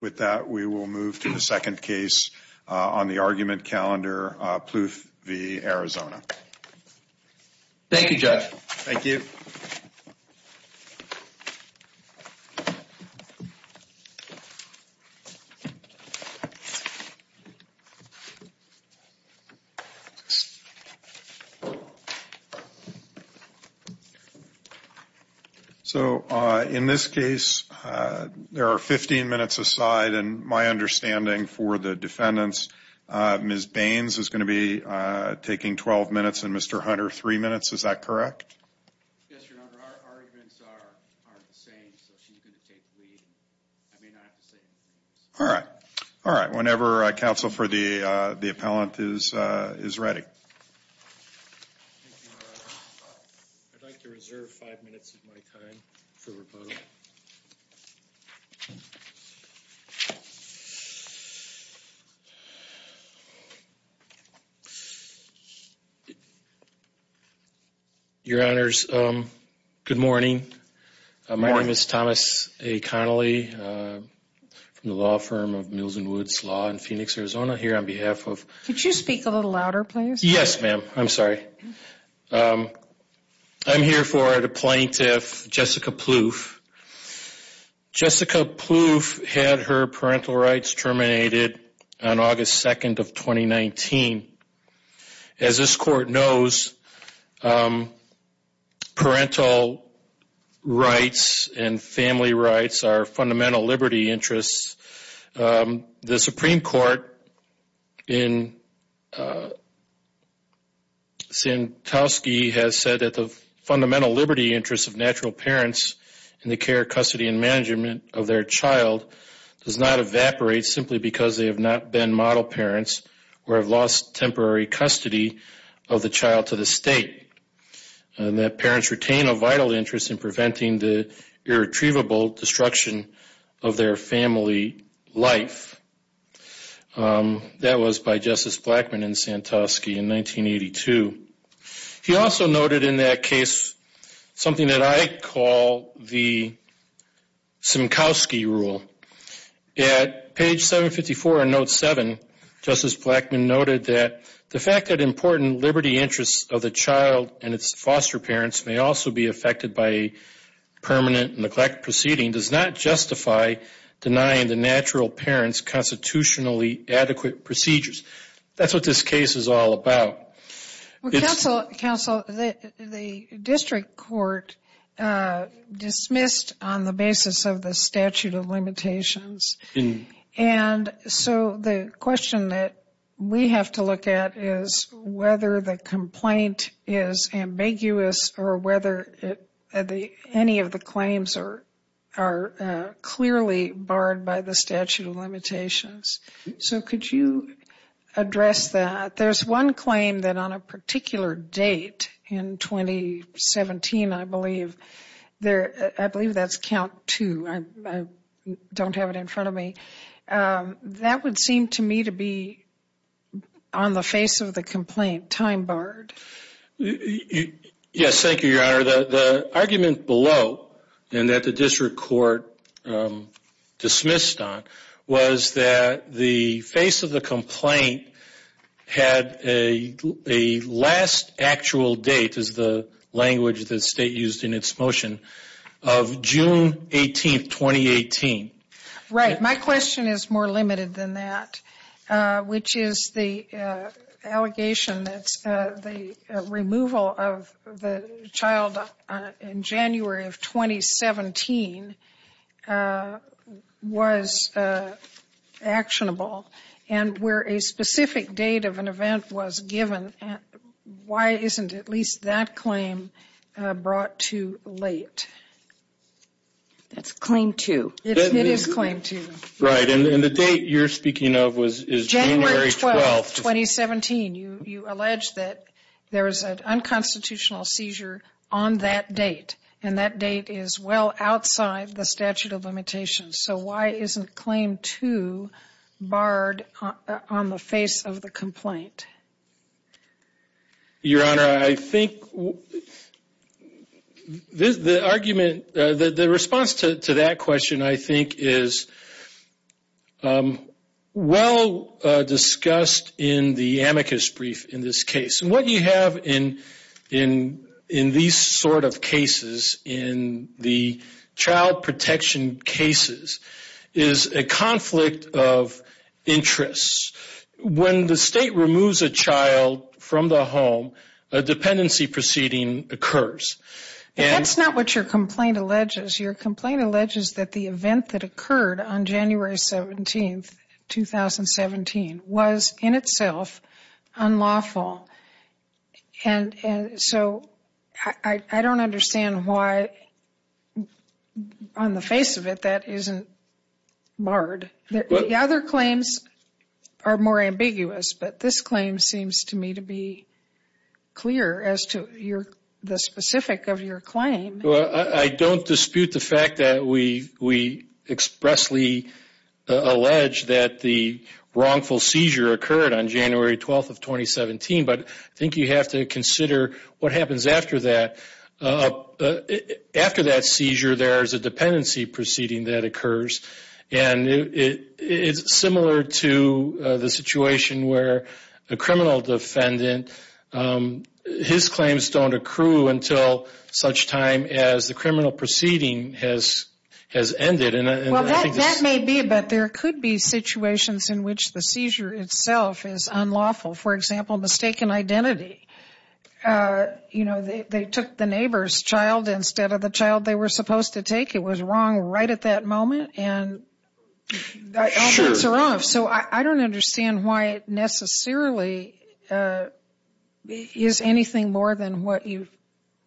With that, we will move to the second case on the argument calendar, Ploof v. Arizona. Thank you, Judge. Thank you. So, in this case, there are 15 minutes aside, and my understanding for the defendants, Ms. Baines is going to be taking 12 minutes and Mr. Hunter, 3 minutes, is that correct? Yes, Your Honor. Our arguments aren't the same, so she's going to take the lead. I may not have to say anything else. All right. Whenever counsel for the appellant is ready. I'd like to reserve 5 minutes of my time for repose. All right. Your Honors, good morning. My name is Thomas A. Connelly from the law firm of Mills and Woods Law in Phoenix, Arizona, here on behalf of... Could you speak a little louder, please? Yes, ma'am. I'm sorry. I'm here for the plaintiff, Jessica Ploof. Jessica Ploof had her parental rights terminated on August 2nd of 2019. As this court knows, parental rights and family rights are fundamental liberty interests. The Supreme Court in Santowski has said that the fundamental liberty interests of natural parents in the care, custody, and management of their child does not evaporate simply because they have not been model parents or have lost temporary custody of the child to the state. And that parents retain a vital interest in preventing the irretrievable destruction of their family life. That was by Justice Blackmun in Santowski in 1982. He also noted in that case something that I call the Simkowski rule. At page 754 in note 7, Justice Blackmun noted that the fact that important liberty interests of the child and its foster parents may also be affected by permanent neglect proceeding does not justify denying the natural parents constitutionally adequate procedures. That's what this case is all about. Counsel, the district court dismissed on the basis of the statute of limitations. And so the question that we have to look at is whether the complaint is ambiguous or whether any of the claims are clearly barred by the statute of limitations. So could you address that? There's one claim that on a particular date in 2017, I believe, I believe that's count two. I don't have it in front of me. That would seem to me to be on the face of the complaint, time barred. The argument below and that the district court dismissed on was that the face of the complaint had a last actual date, is the language that the state used in its motion, of June 18, 2018. Right. My question is more limited than that, which is the allegation that the removal of the child in January of 2017 was actionable. And where a specific date of an event was given, why isn't at least that claim brought too late? That's claim two. It is claim two. Right. And the date you're speaking of was January 12, 2017. You allege that there was an unconstitutional seizure on that date. And that date is well outside the statute of limitations. So why isn't claim two barred on the face of the complaint? Your Honor, I think the argument, the response to that question, I think, is well discussed in the amicus brief in this case. And what you have in these sort of cases, in the child protection cases, is a conflict of interest. When the state removes a child from the home, a dependency proceeding occurs. That's not what your complaint alleges. Your complaint alleges that the event that occurred on January 17, 2017, was in itself unlawful. And so I don't understand why, on the face of it, that isn't barred. The other claims are more ambiguous, but this claim seems to me to be clear as to the specific of your claim. I don't dispute the fact that we expressly allege that the wrongful seizure occurred on January 12, 2017. But I think you have to consider what happens after that. After that seizure, there is a dependency proceeding that occurs. And it's similar to the situation where a criminal defendant, his claims don't accrue until such time as the criminal proceeding has ended. Well, that may be, but there could be situations in which the seizure itself is unlawful. For example, mistaken identity. You know, they took the neighbor's child instead of the child they were supposed to take. It was wrong right at that moment, and all that's wrong. So I don't understand why it necessarily is anything more than what you've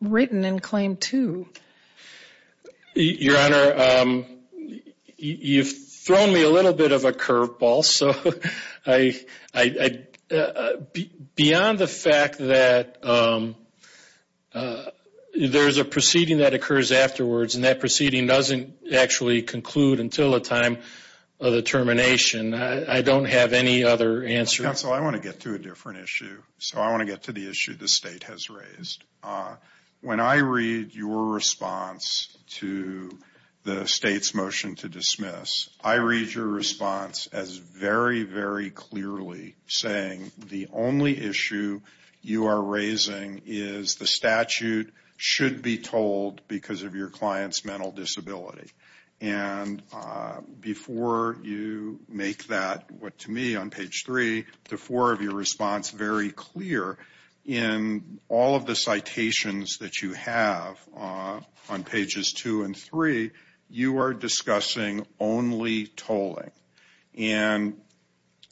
written in Claim 2. Your Honor, you've thrown me a little bit of a curveball. Beyond the fact that there's a proceeding that occurs afterwards, and that proceeding doesn't actually conclude until the time of the termination, I don't have any other answers. Counsel, I want to get to a different issue. So I want to get to the issue the State has raised. When I read your response to the State's motion to dismiss, I read your response as very, very clearly saying the only issue you are raising is the statute should be told because of your client's mental disability. And before you make that, to me, on page 3 to 4 of your response very clear, in all of the citations that you have on pages 2 and 3, you are discussing only tolling. And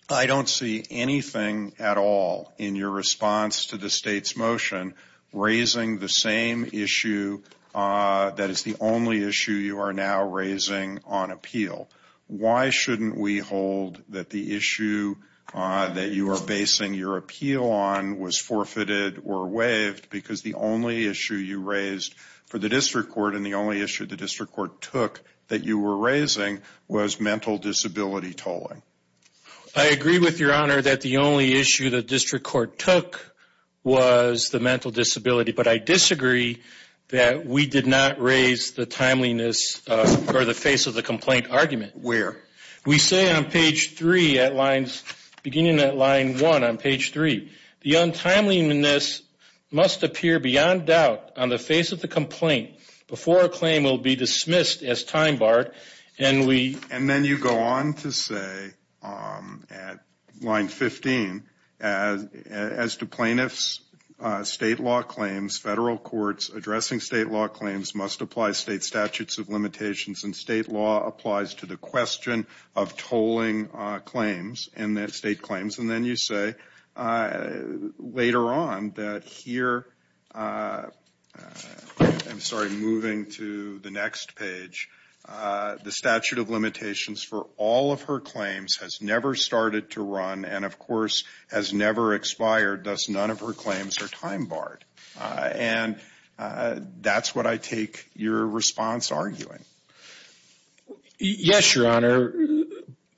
I don't see anything at all in your response to the State's motion raising the same issue that is the only issue you are now raising on appeal. Why shouldn't we hold that the issue that you are basing your appeal on was forfeited or waived because the only issue you raised for the District Court and the only issue the District Court took that you were raising was mental disability tolling? I agree with your Honor that the only issue the District Court took was the mental disability. But I disagree that we did not raise the timeliness or the face of the complaint argument. Where? We say on page 3 at lines, beginning at line 1 on page 3, the untimeliness must appear beyond doubt on the face of the complaint before a claim will be dismissed as time barred and we And then you go on to say at line 15, as to plaintiffs' state law claims, federal courts addressing state law claims must apply state statutes of limitations and state law applies to the question of tolling claims and state claims. And then you say later on that here, I'm sorry, moving to the next page, the statute of limitations for all of her claims has never started to run and of course has never expired, thus none of her claims are time barred. And that's what I take your response arguing. Yes, Your Honor.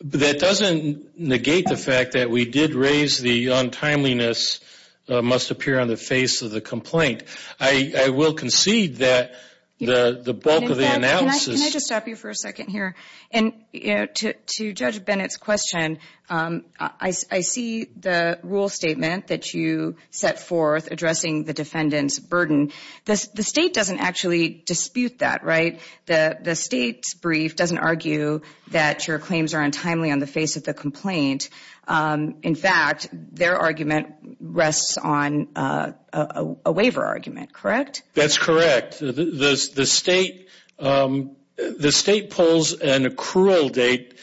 That doesn't negate the fact that we did raise the untimeliness must appear on the face of the complaint. I will concede that the bulk of the analysis... Can I just stop you for a second here? And to Judge Bennett's question, I see the rule statement that you set forth addressing the defendant's burden. The state doesn't actually dispute that, right? The state's brief doesn't argue that your claims are untimely on the face of the complaint. In fact, their argument rests on a waiver argument, correct? That's correct. The state pulls an accrual date.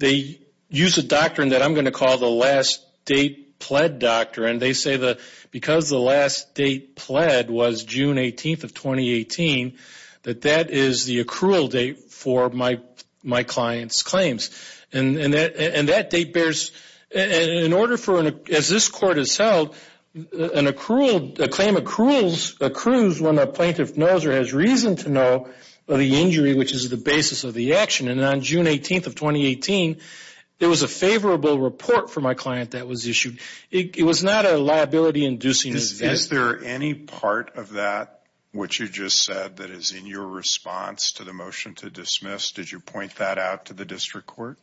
They use a doctrine that I'm going to call the last date pled doctrine. They say that because the last date pled was June 18th of 2018, that that is the accrual date for my client's claims. And that date bears... In order for, as this court has held, a claim accrues when a plaintiff knows or has reason to know of the injury, which is the basis of the action. And on June 18th of 2018, there was a favorable report for my client that was issued. It was not a liability-inducing event. Is there any part of that, what you just said, that is in your response to the motion to dismiss? Did you point that out to the district court?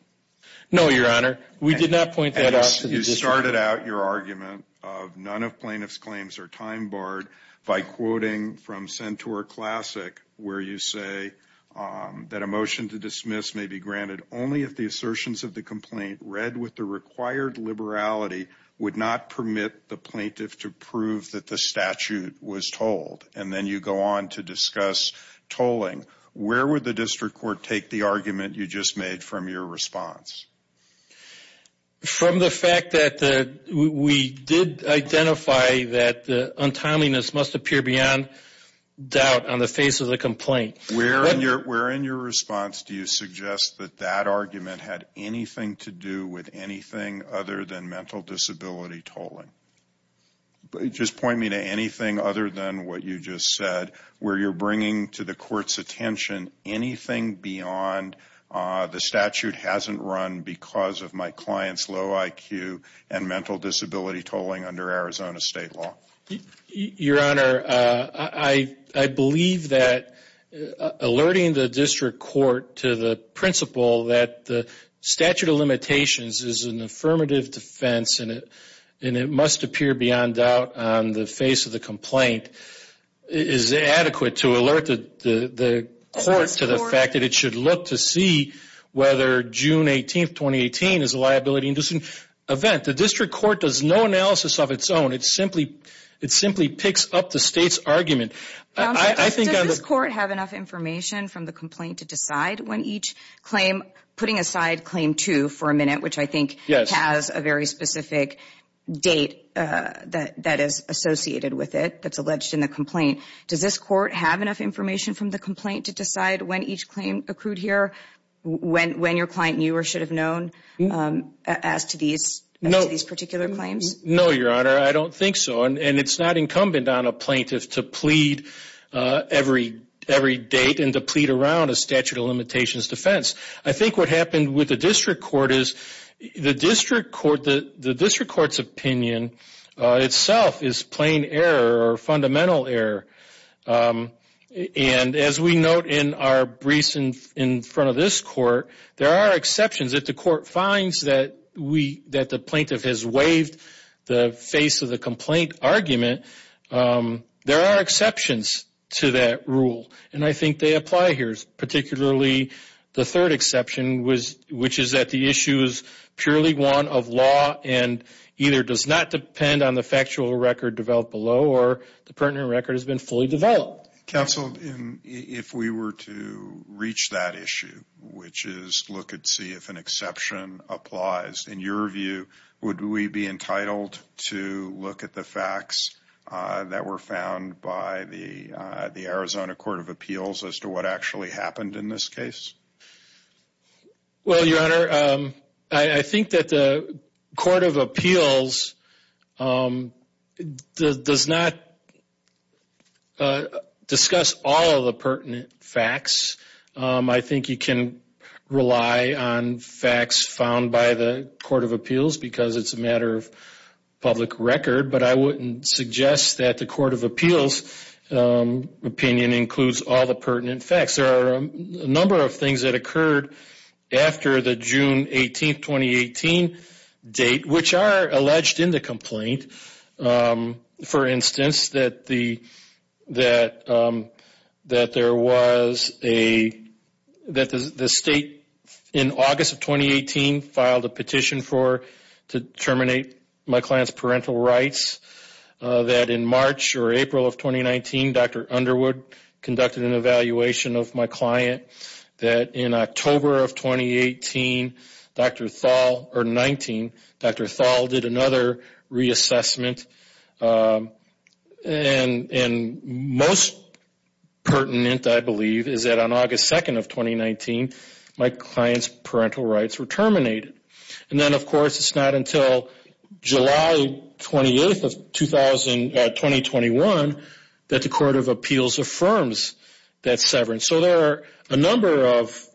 No, Your Honor. We did not point that out to the district court. You started out your argument of none of plaintiff's claims are time-barred by quoting from Centaur Classic, where you say that a motion to dismiss may be granted only if the assertions of the complaint, read with the required liberality, would not permit the plaintiff to prove that the statute was told. And then you go on to discuss tolling. Where would the district court take the argument you just made from your response? From the fact that we did identify that the untimeliness must appear beyond doubt on the face of the complaint. Where in your response do you suggest that that argument had anything to do with anything other than mental disability tolling? Just point me to anything other than what you just said, where you're bringing to the court's attention anything beyond the statute hasn't run because of my client's low IQ and mental disability tolling under Arizona state law. Your Honor, I believe that alerting the district court to the principle that the statute of limitations is an affirmative defense and it must appear beyond doubt on the face of the complaint is adequate to alert the court to the fact that it should look to see whether June 18, 2018 is a liability-inducing event. The district court does no analysis of its own. It simply picks up the state's argument. Does this court have enough information from the complaint to decide when each claim, putting aside Claim 2 for a minute, which I think has a very specific date that is associated with it, that's alleged in the complaint, does this court have enough information from the complaint to decide when each claim accrued here? When your client knew or should have known as to these particular claims? No, Your Honor, I don't think so. And it's not incumbent on a plaintiff to plead every date and to plead around a statute of limitations defense. I think what happened with the district court is the district court's opinion itself is plain error or fundamental error. And as we note in our briefs in front of this court, there are exceptions. If the court finds that the plaintiff has waived the face of the complaint argument, there are exceptions to that rule. And I think they apply here, particularly the third exception, which is that the issue is purely one of law and either does not depend on the factual record developed below or the pertinent record has been fully developed. Counsel, if we were to reach that issue, which is look and see if an exception applies, in your view, would we be entitled to look at the facts that were found by the Arizona Court of Appeals as to what actually happened in this case? Well, Your Honor, I think that the Court of Appeals does not discuss all of the pertinent facts. I think you can rely on facts found by the Court of Appeals because it's a matter of public record. But I wouldn't suggest that the Court of Appeals opinion includes all the pertinent facts. There are a number of things that occurred after the June 18, 2018 date, which are alleged in the complaint. For instance, that the state in August of 2018 filed a petition to terminate my client's parental rights. That in March or April of 2019, Dr. Underwood conducted an evaluation of my client. That in October of 2019, Dr. Thal did another reassessment. And most pertinent, I believe, is that on August 2nd of 2019, my client's parental rights were terminated. And then, of course, it's not until July 28th of 2021 that the Court of Appeals affirms that severance. So there are a number of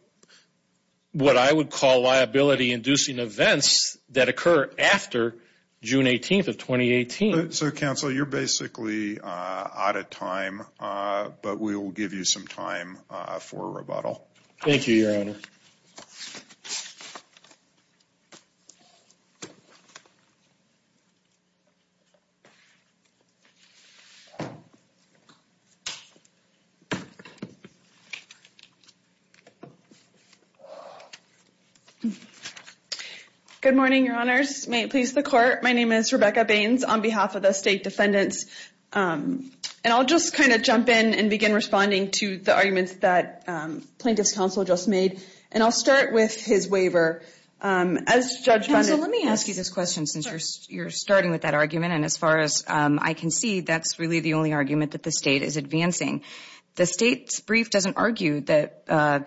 what I would call liability-inducing events that occur after June 18th of 2018. So, counsel, you're basically out of time, but we will give you some time for rebuttal. Thank you, Your Honor. Good morning, Your Honors. May it please the Court, my name is Rebecca Baines on behalf of the State Defendants. And I'll just kind of jump in and begin responding to the arguments that Plaintiff's Counsel just made. And I'll start with his waiver. As Judge Bundy... Counsel, let me ask you this question, since you're starting with that argument. And as far as I can see, that's really the only argument that the state is advancing. The state's brief doesn't argue that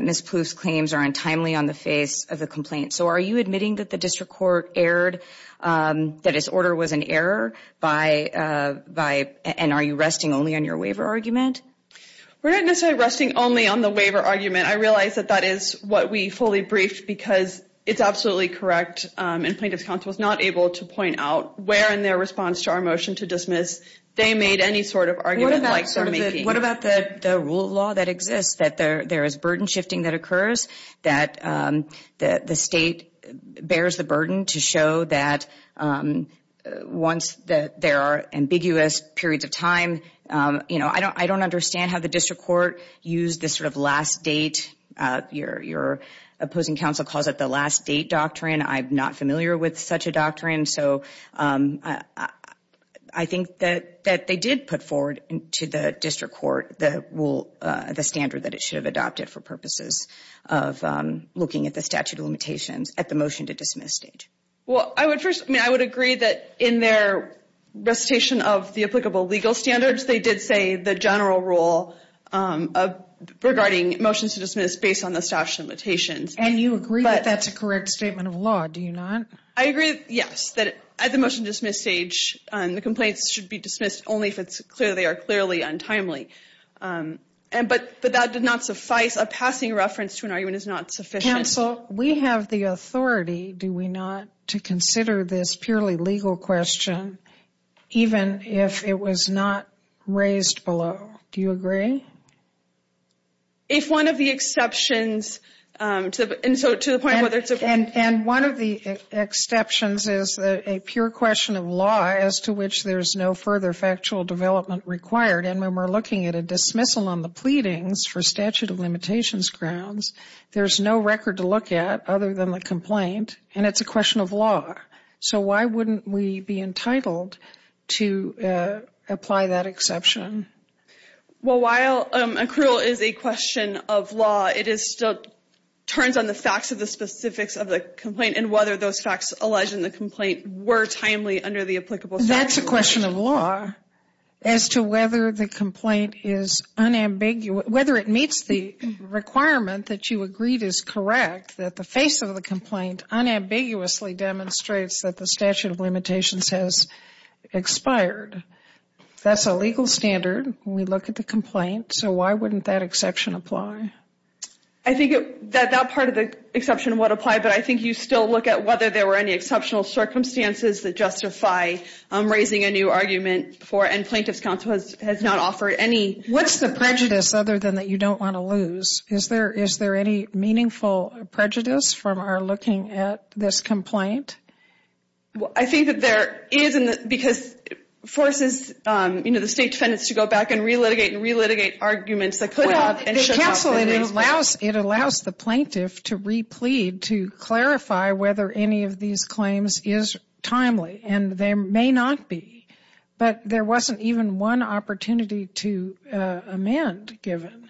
Ms. Plouffe's claims are untimely on the face of the complaint. So are you admitting that the District Court erred, that its order was an error? And are you resting only on your waiver argument? We're not necessarily resting only on the waiver argument. I realize that that is what we fully briefed because it's absolutely correct. And Plaintiff's Counsel was not able to point out where in their response to our motion to dismiss, they made any sort of argument like... What about the rule of law that exists, that there is burden shifting that occurs, that the state bears the burden to show that once there are ambiguous periods of time... You know, I don't understand how the District Court used this sort of last date... Your opposing counsel calls it the last date doctrine. I'm not familiar with such a doctrine. So I think that they did put forward to the District Court the rule, the standard that it should have adopted for purposes of looking at the statute of limitations at the motion to dismiss stage. Well, I would agree that in their recitation of the applicable legal standards, they did say the general rule regarding motions to dismiss based on the statute of limitations. And you agree that that's a correct statement of law, do you not? I agree, yes, that at the motion to dismiss stage, the complaints should be dismissed only if they are clearly untimely. But that did not suffice. A passing reference to an argument is not sufficient. Counsel, we have the authority, do we not, to consider this purely legal question, even if it was not raised below. Do you agree? If one of the exceptions... And so to the point of whether it's... And one of the exceptions is a pure question of law as to which there's no further factual development required. And when we're looking at a dismissal on the pleadings for statute of limitations grounds, there's no record to look at other than the complaint. And it's a question of law. So why wouldn't we be entitled to apply that exception? Well, while accrual is a question of law, it still turns on the facts of the specifics of the complaint and whether those facts alleged in the complaint were timely under the applicable statute. That's a question of law as to whether the complaint is unambiguous... Whether it meets the requirement that you agreed is correct that the face of the complaint unambiguously demonstrates that the statute of limitations has expired. That's a legal standard when we look at the complaint. So why wouldn't that exception apply? I think that that part of the exception would apply, but I think you still look at whether there were any exceptional circumstances that justify raising a new argument for... And Plaintiff's Counsel has not offered any... What's the prejudice other than that you don't want to lose? Is there any meaningful prejudice from our looking at this complaint? Well, I think that there is, because it forces the State Defendants to go back and re-litigate and re-litigate arguments that could have... Well, the Counsel allows the Plaintiff to re-plead to clarify whether any of these claims is timely, and there may not be. But there wasn't even one opportunity to amend given.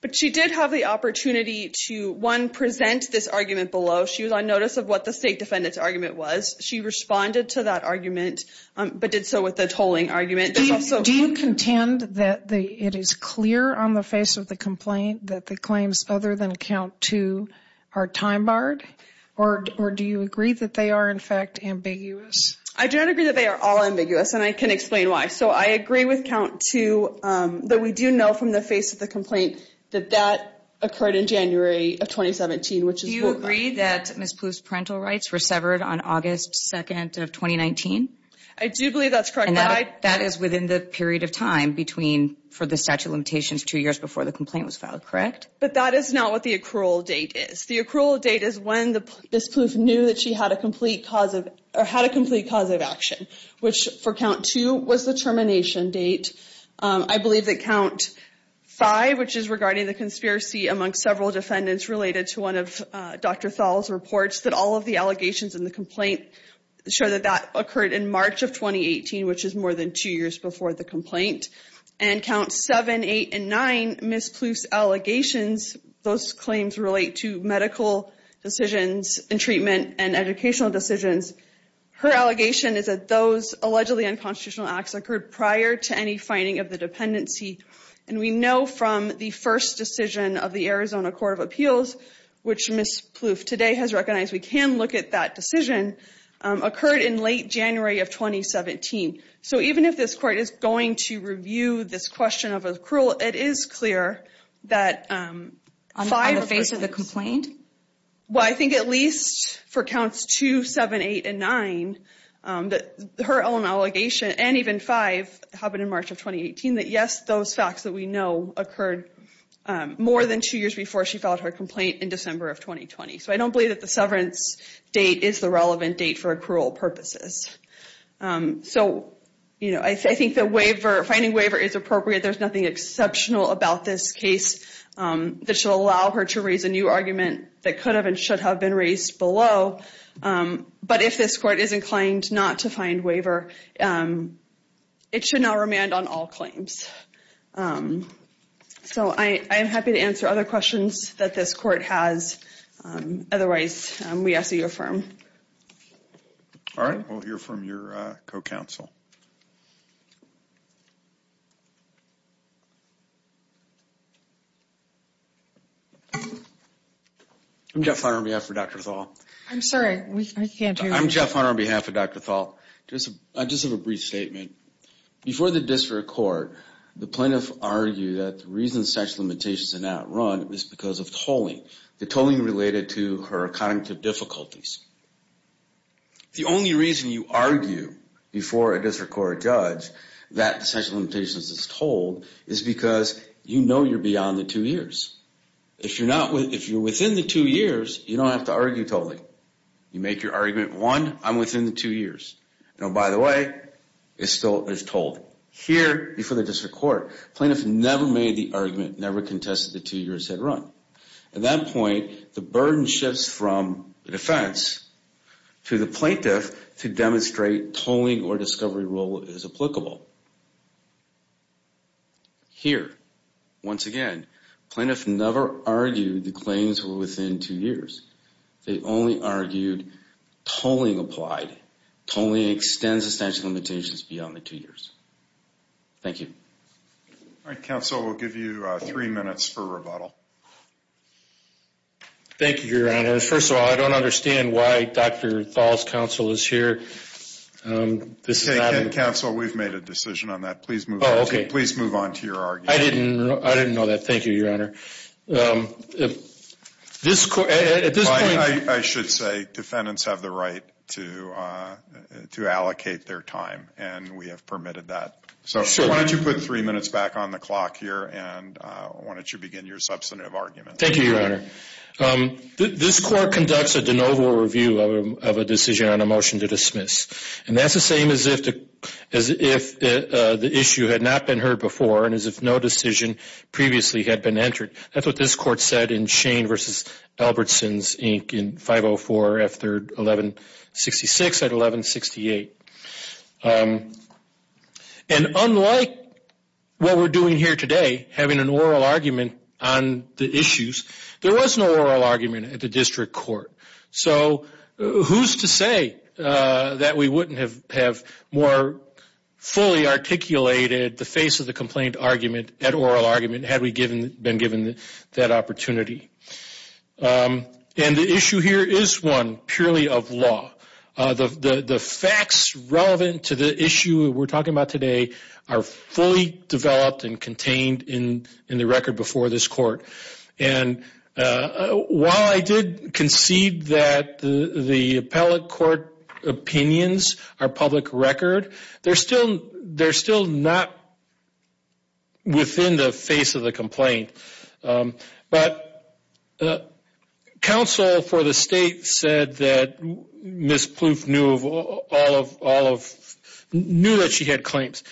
But she did have the opportunity to, one, present this argument below. She was on notice of what the State Defendant's argument was. She responded to that argument, but did so with a tolling argument. Do you contend that it is clear on the face of the complaint that the claims other than Count 2 are time-barred? Or do you agree that they are, in fact, ambiguous? I do not agree that they are all ambiguous, and I can explain why. So I agree with Count 2 that we do know from the face of the complaint that that occurred in January of 2017, which is... Do you agree that Ms. Plouffe's parental rights were severed on August 2nd of 2019? I do believe that's correct. And that is within the period of time for the statute of limitations two years before the complaint was filed, correct? But that is not what the accrual date is. The accrual date is when Ms. Plouffe knew that she had a complete cause of action, which for Count 2 was the termination date. I believe that Count 5, which is regarding the conspiracy among several defendants related to one of Dr. Thal's reports, that all of the allegations in the complaint show that that occurred in March of 2018, which is more than two years before the complaint. And Counts 7, 8, and 9, Ms. Plouffe's allegations, those claims relate to medical decisions and treatment and educational decisions. Her allegation is that those allegedly unconstitutional acts occurred prior to any finding of the dependency. And we know from the first decision of the Arizona Court of Appeals, which Ms. Plouffe today has recognized, we can look at that decision, occurred in late January of 2017. So even if this Court is going to review this question of accrual, it is clear that five... On the face of the complaint? Well, I think at least for Counts 2, 7, 8, and 9, her own allegation, and even 5, happened in March of 2018, indicating that, yes, those facts that we know occurred more than two years before she filed her complaint in December of 2020. So I don't believe that the severance date is the relevant date for accrual purposes. So, you know, I think that finding waiver is appropriate. There's nothing exceptional about this case that should allow her to raise a new argument that could have and should have been raised below. But if this Court is inclined not to find waiver, it should not remand on all claims. So I am happy to answer other questions that this Court has. Otherwise, we ask that you affirm. All right, we'll hear from your co-counsel. I'm Jeff Hunter on behalf of Dr. Thal. I'm sorry, we can't hear you. I'm Jeff Hunter on behalf of Dr. Thal. I just have a brief statement. Before the District Court, the plaintiff argued that the reason sexual limitations are not run is because of tolling. The tolling related to her cognitive difficulties. The only reason you argue before a District Court judge that sexual limitations is tolled is because you know you're beyond the two years. If you're within the two years, you don't have to argue tolling. You make your argument, one, I'm within the two years. By the way, it still is tolled. Here, before the District Court, plaintiff never made the argument, never contested the two years that run. At that point, the burden shifts from the defense to the plaintiff to demonstrate that the tolling or discovery rule is applicable. Here, once again, plaintiff never argued the claims were within two years. They only argued tolling applied. Tolling extends the statute of limitations beyond the two years. Thank you. All right, counsel, we'll give you three minutes for rebuttal. Thank you, Your Honor. First of all, I don't understand why Dr. Thal's counsel is here. Counsel, we've made a decision on that. Please move on to your argument. I didn't know that. Thank you, Your Honor. I should say defendants have the right to allocate their time and we have permitted that. Why don't you put three minutes back on the clock here and why don't you begin your substantive argument. Thank you, Your Honor. This court conducts a de novo review of a decision on a motion to dismiss and that's the same as if the issue had not been heard before and as if no decision previously had been entered. That's what this court said in Shane v. Albertsons, Inc. in 504 F. 3rd 1166 at 1168. And unlike what we're doing here today, having an oral argument on the issues, there was no oral argument at the district court. So who's to say that we wouldn't have more fully articulated the face of the complaint argument at oral argument had we been given that opportunity. And the issue here is one purely of law. The facts relevant to the issue we're talking about today are fully developed and contained in the record before this court. While I did concede that the appellate court opinions are public record, they're still not within the face of the complaint. But counsel for the state said that Ms. Plouffe knew that she had claims.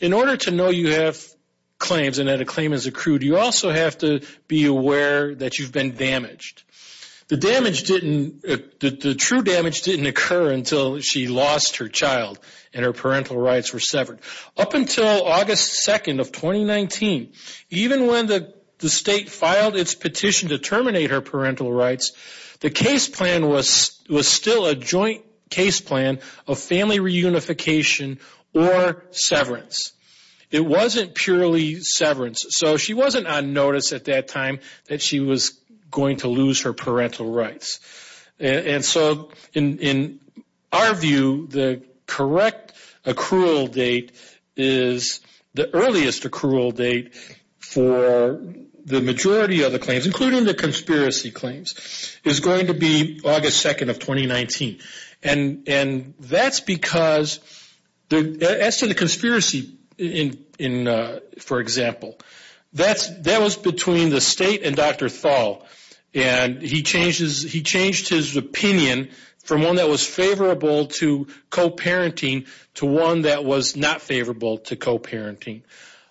In order to know you have claims and that a claim has accrued, you also have to be aware that you've been damaged. The true damage didn't occur until she lost her child and her parental rights were severed. Up until August 2nd of 2019, even when the state filed its petition to terminate her parental rights, the case plan was still a joint case plan of family reunification or severance. It wasn't purely severance. So she wasn't on notice at that time that she was going to lose her parental rights. In our view, the correct accrual date is the earliest accrual date for the majority of the claims, including the conspiracy claims, is going to be August 2nd of 2019. That's because as to the conspiracy for example, that was between the state and Dr. Thal. He changed his opinion from one that was favorable to co-parenting to one that was not favorable to co-parenting.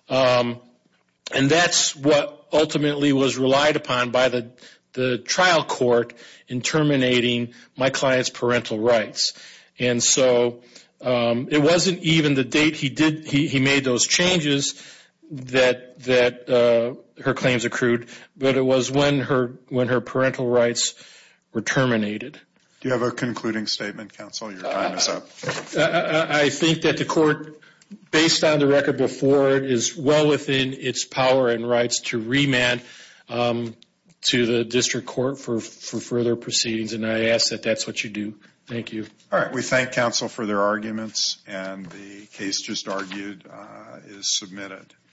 And that's what ultimately was relied upon by the trial court in terminating my client's parental rights. And so it wasn't even the date he made those changes that her claims accrued, but it was when her parental rights were terminated. Do you have a concluding statement, counsel? Your time is up. I think that the court, based on the record before it, is well within its power and rights to remand to the district court for further proceedings, and I ask that that's what you do. Thank you. All right. We thank counsel for their arguments and the case just argued is submitted.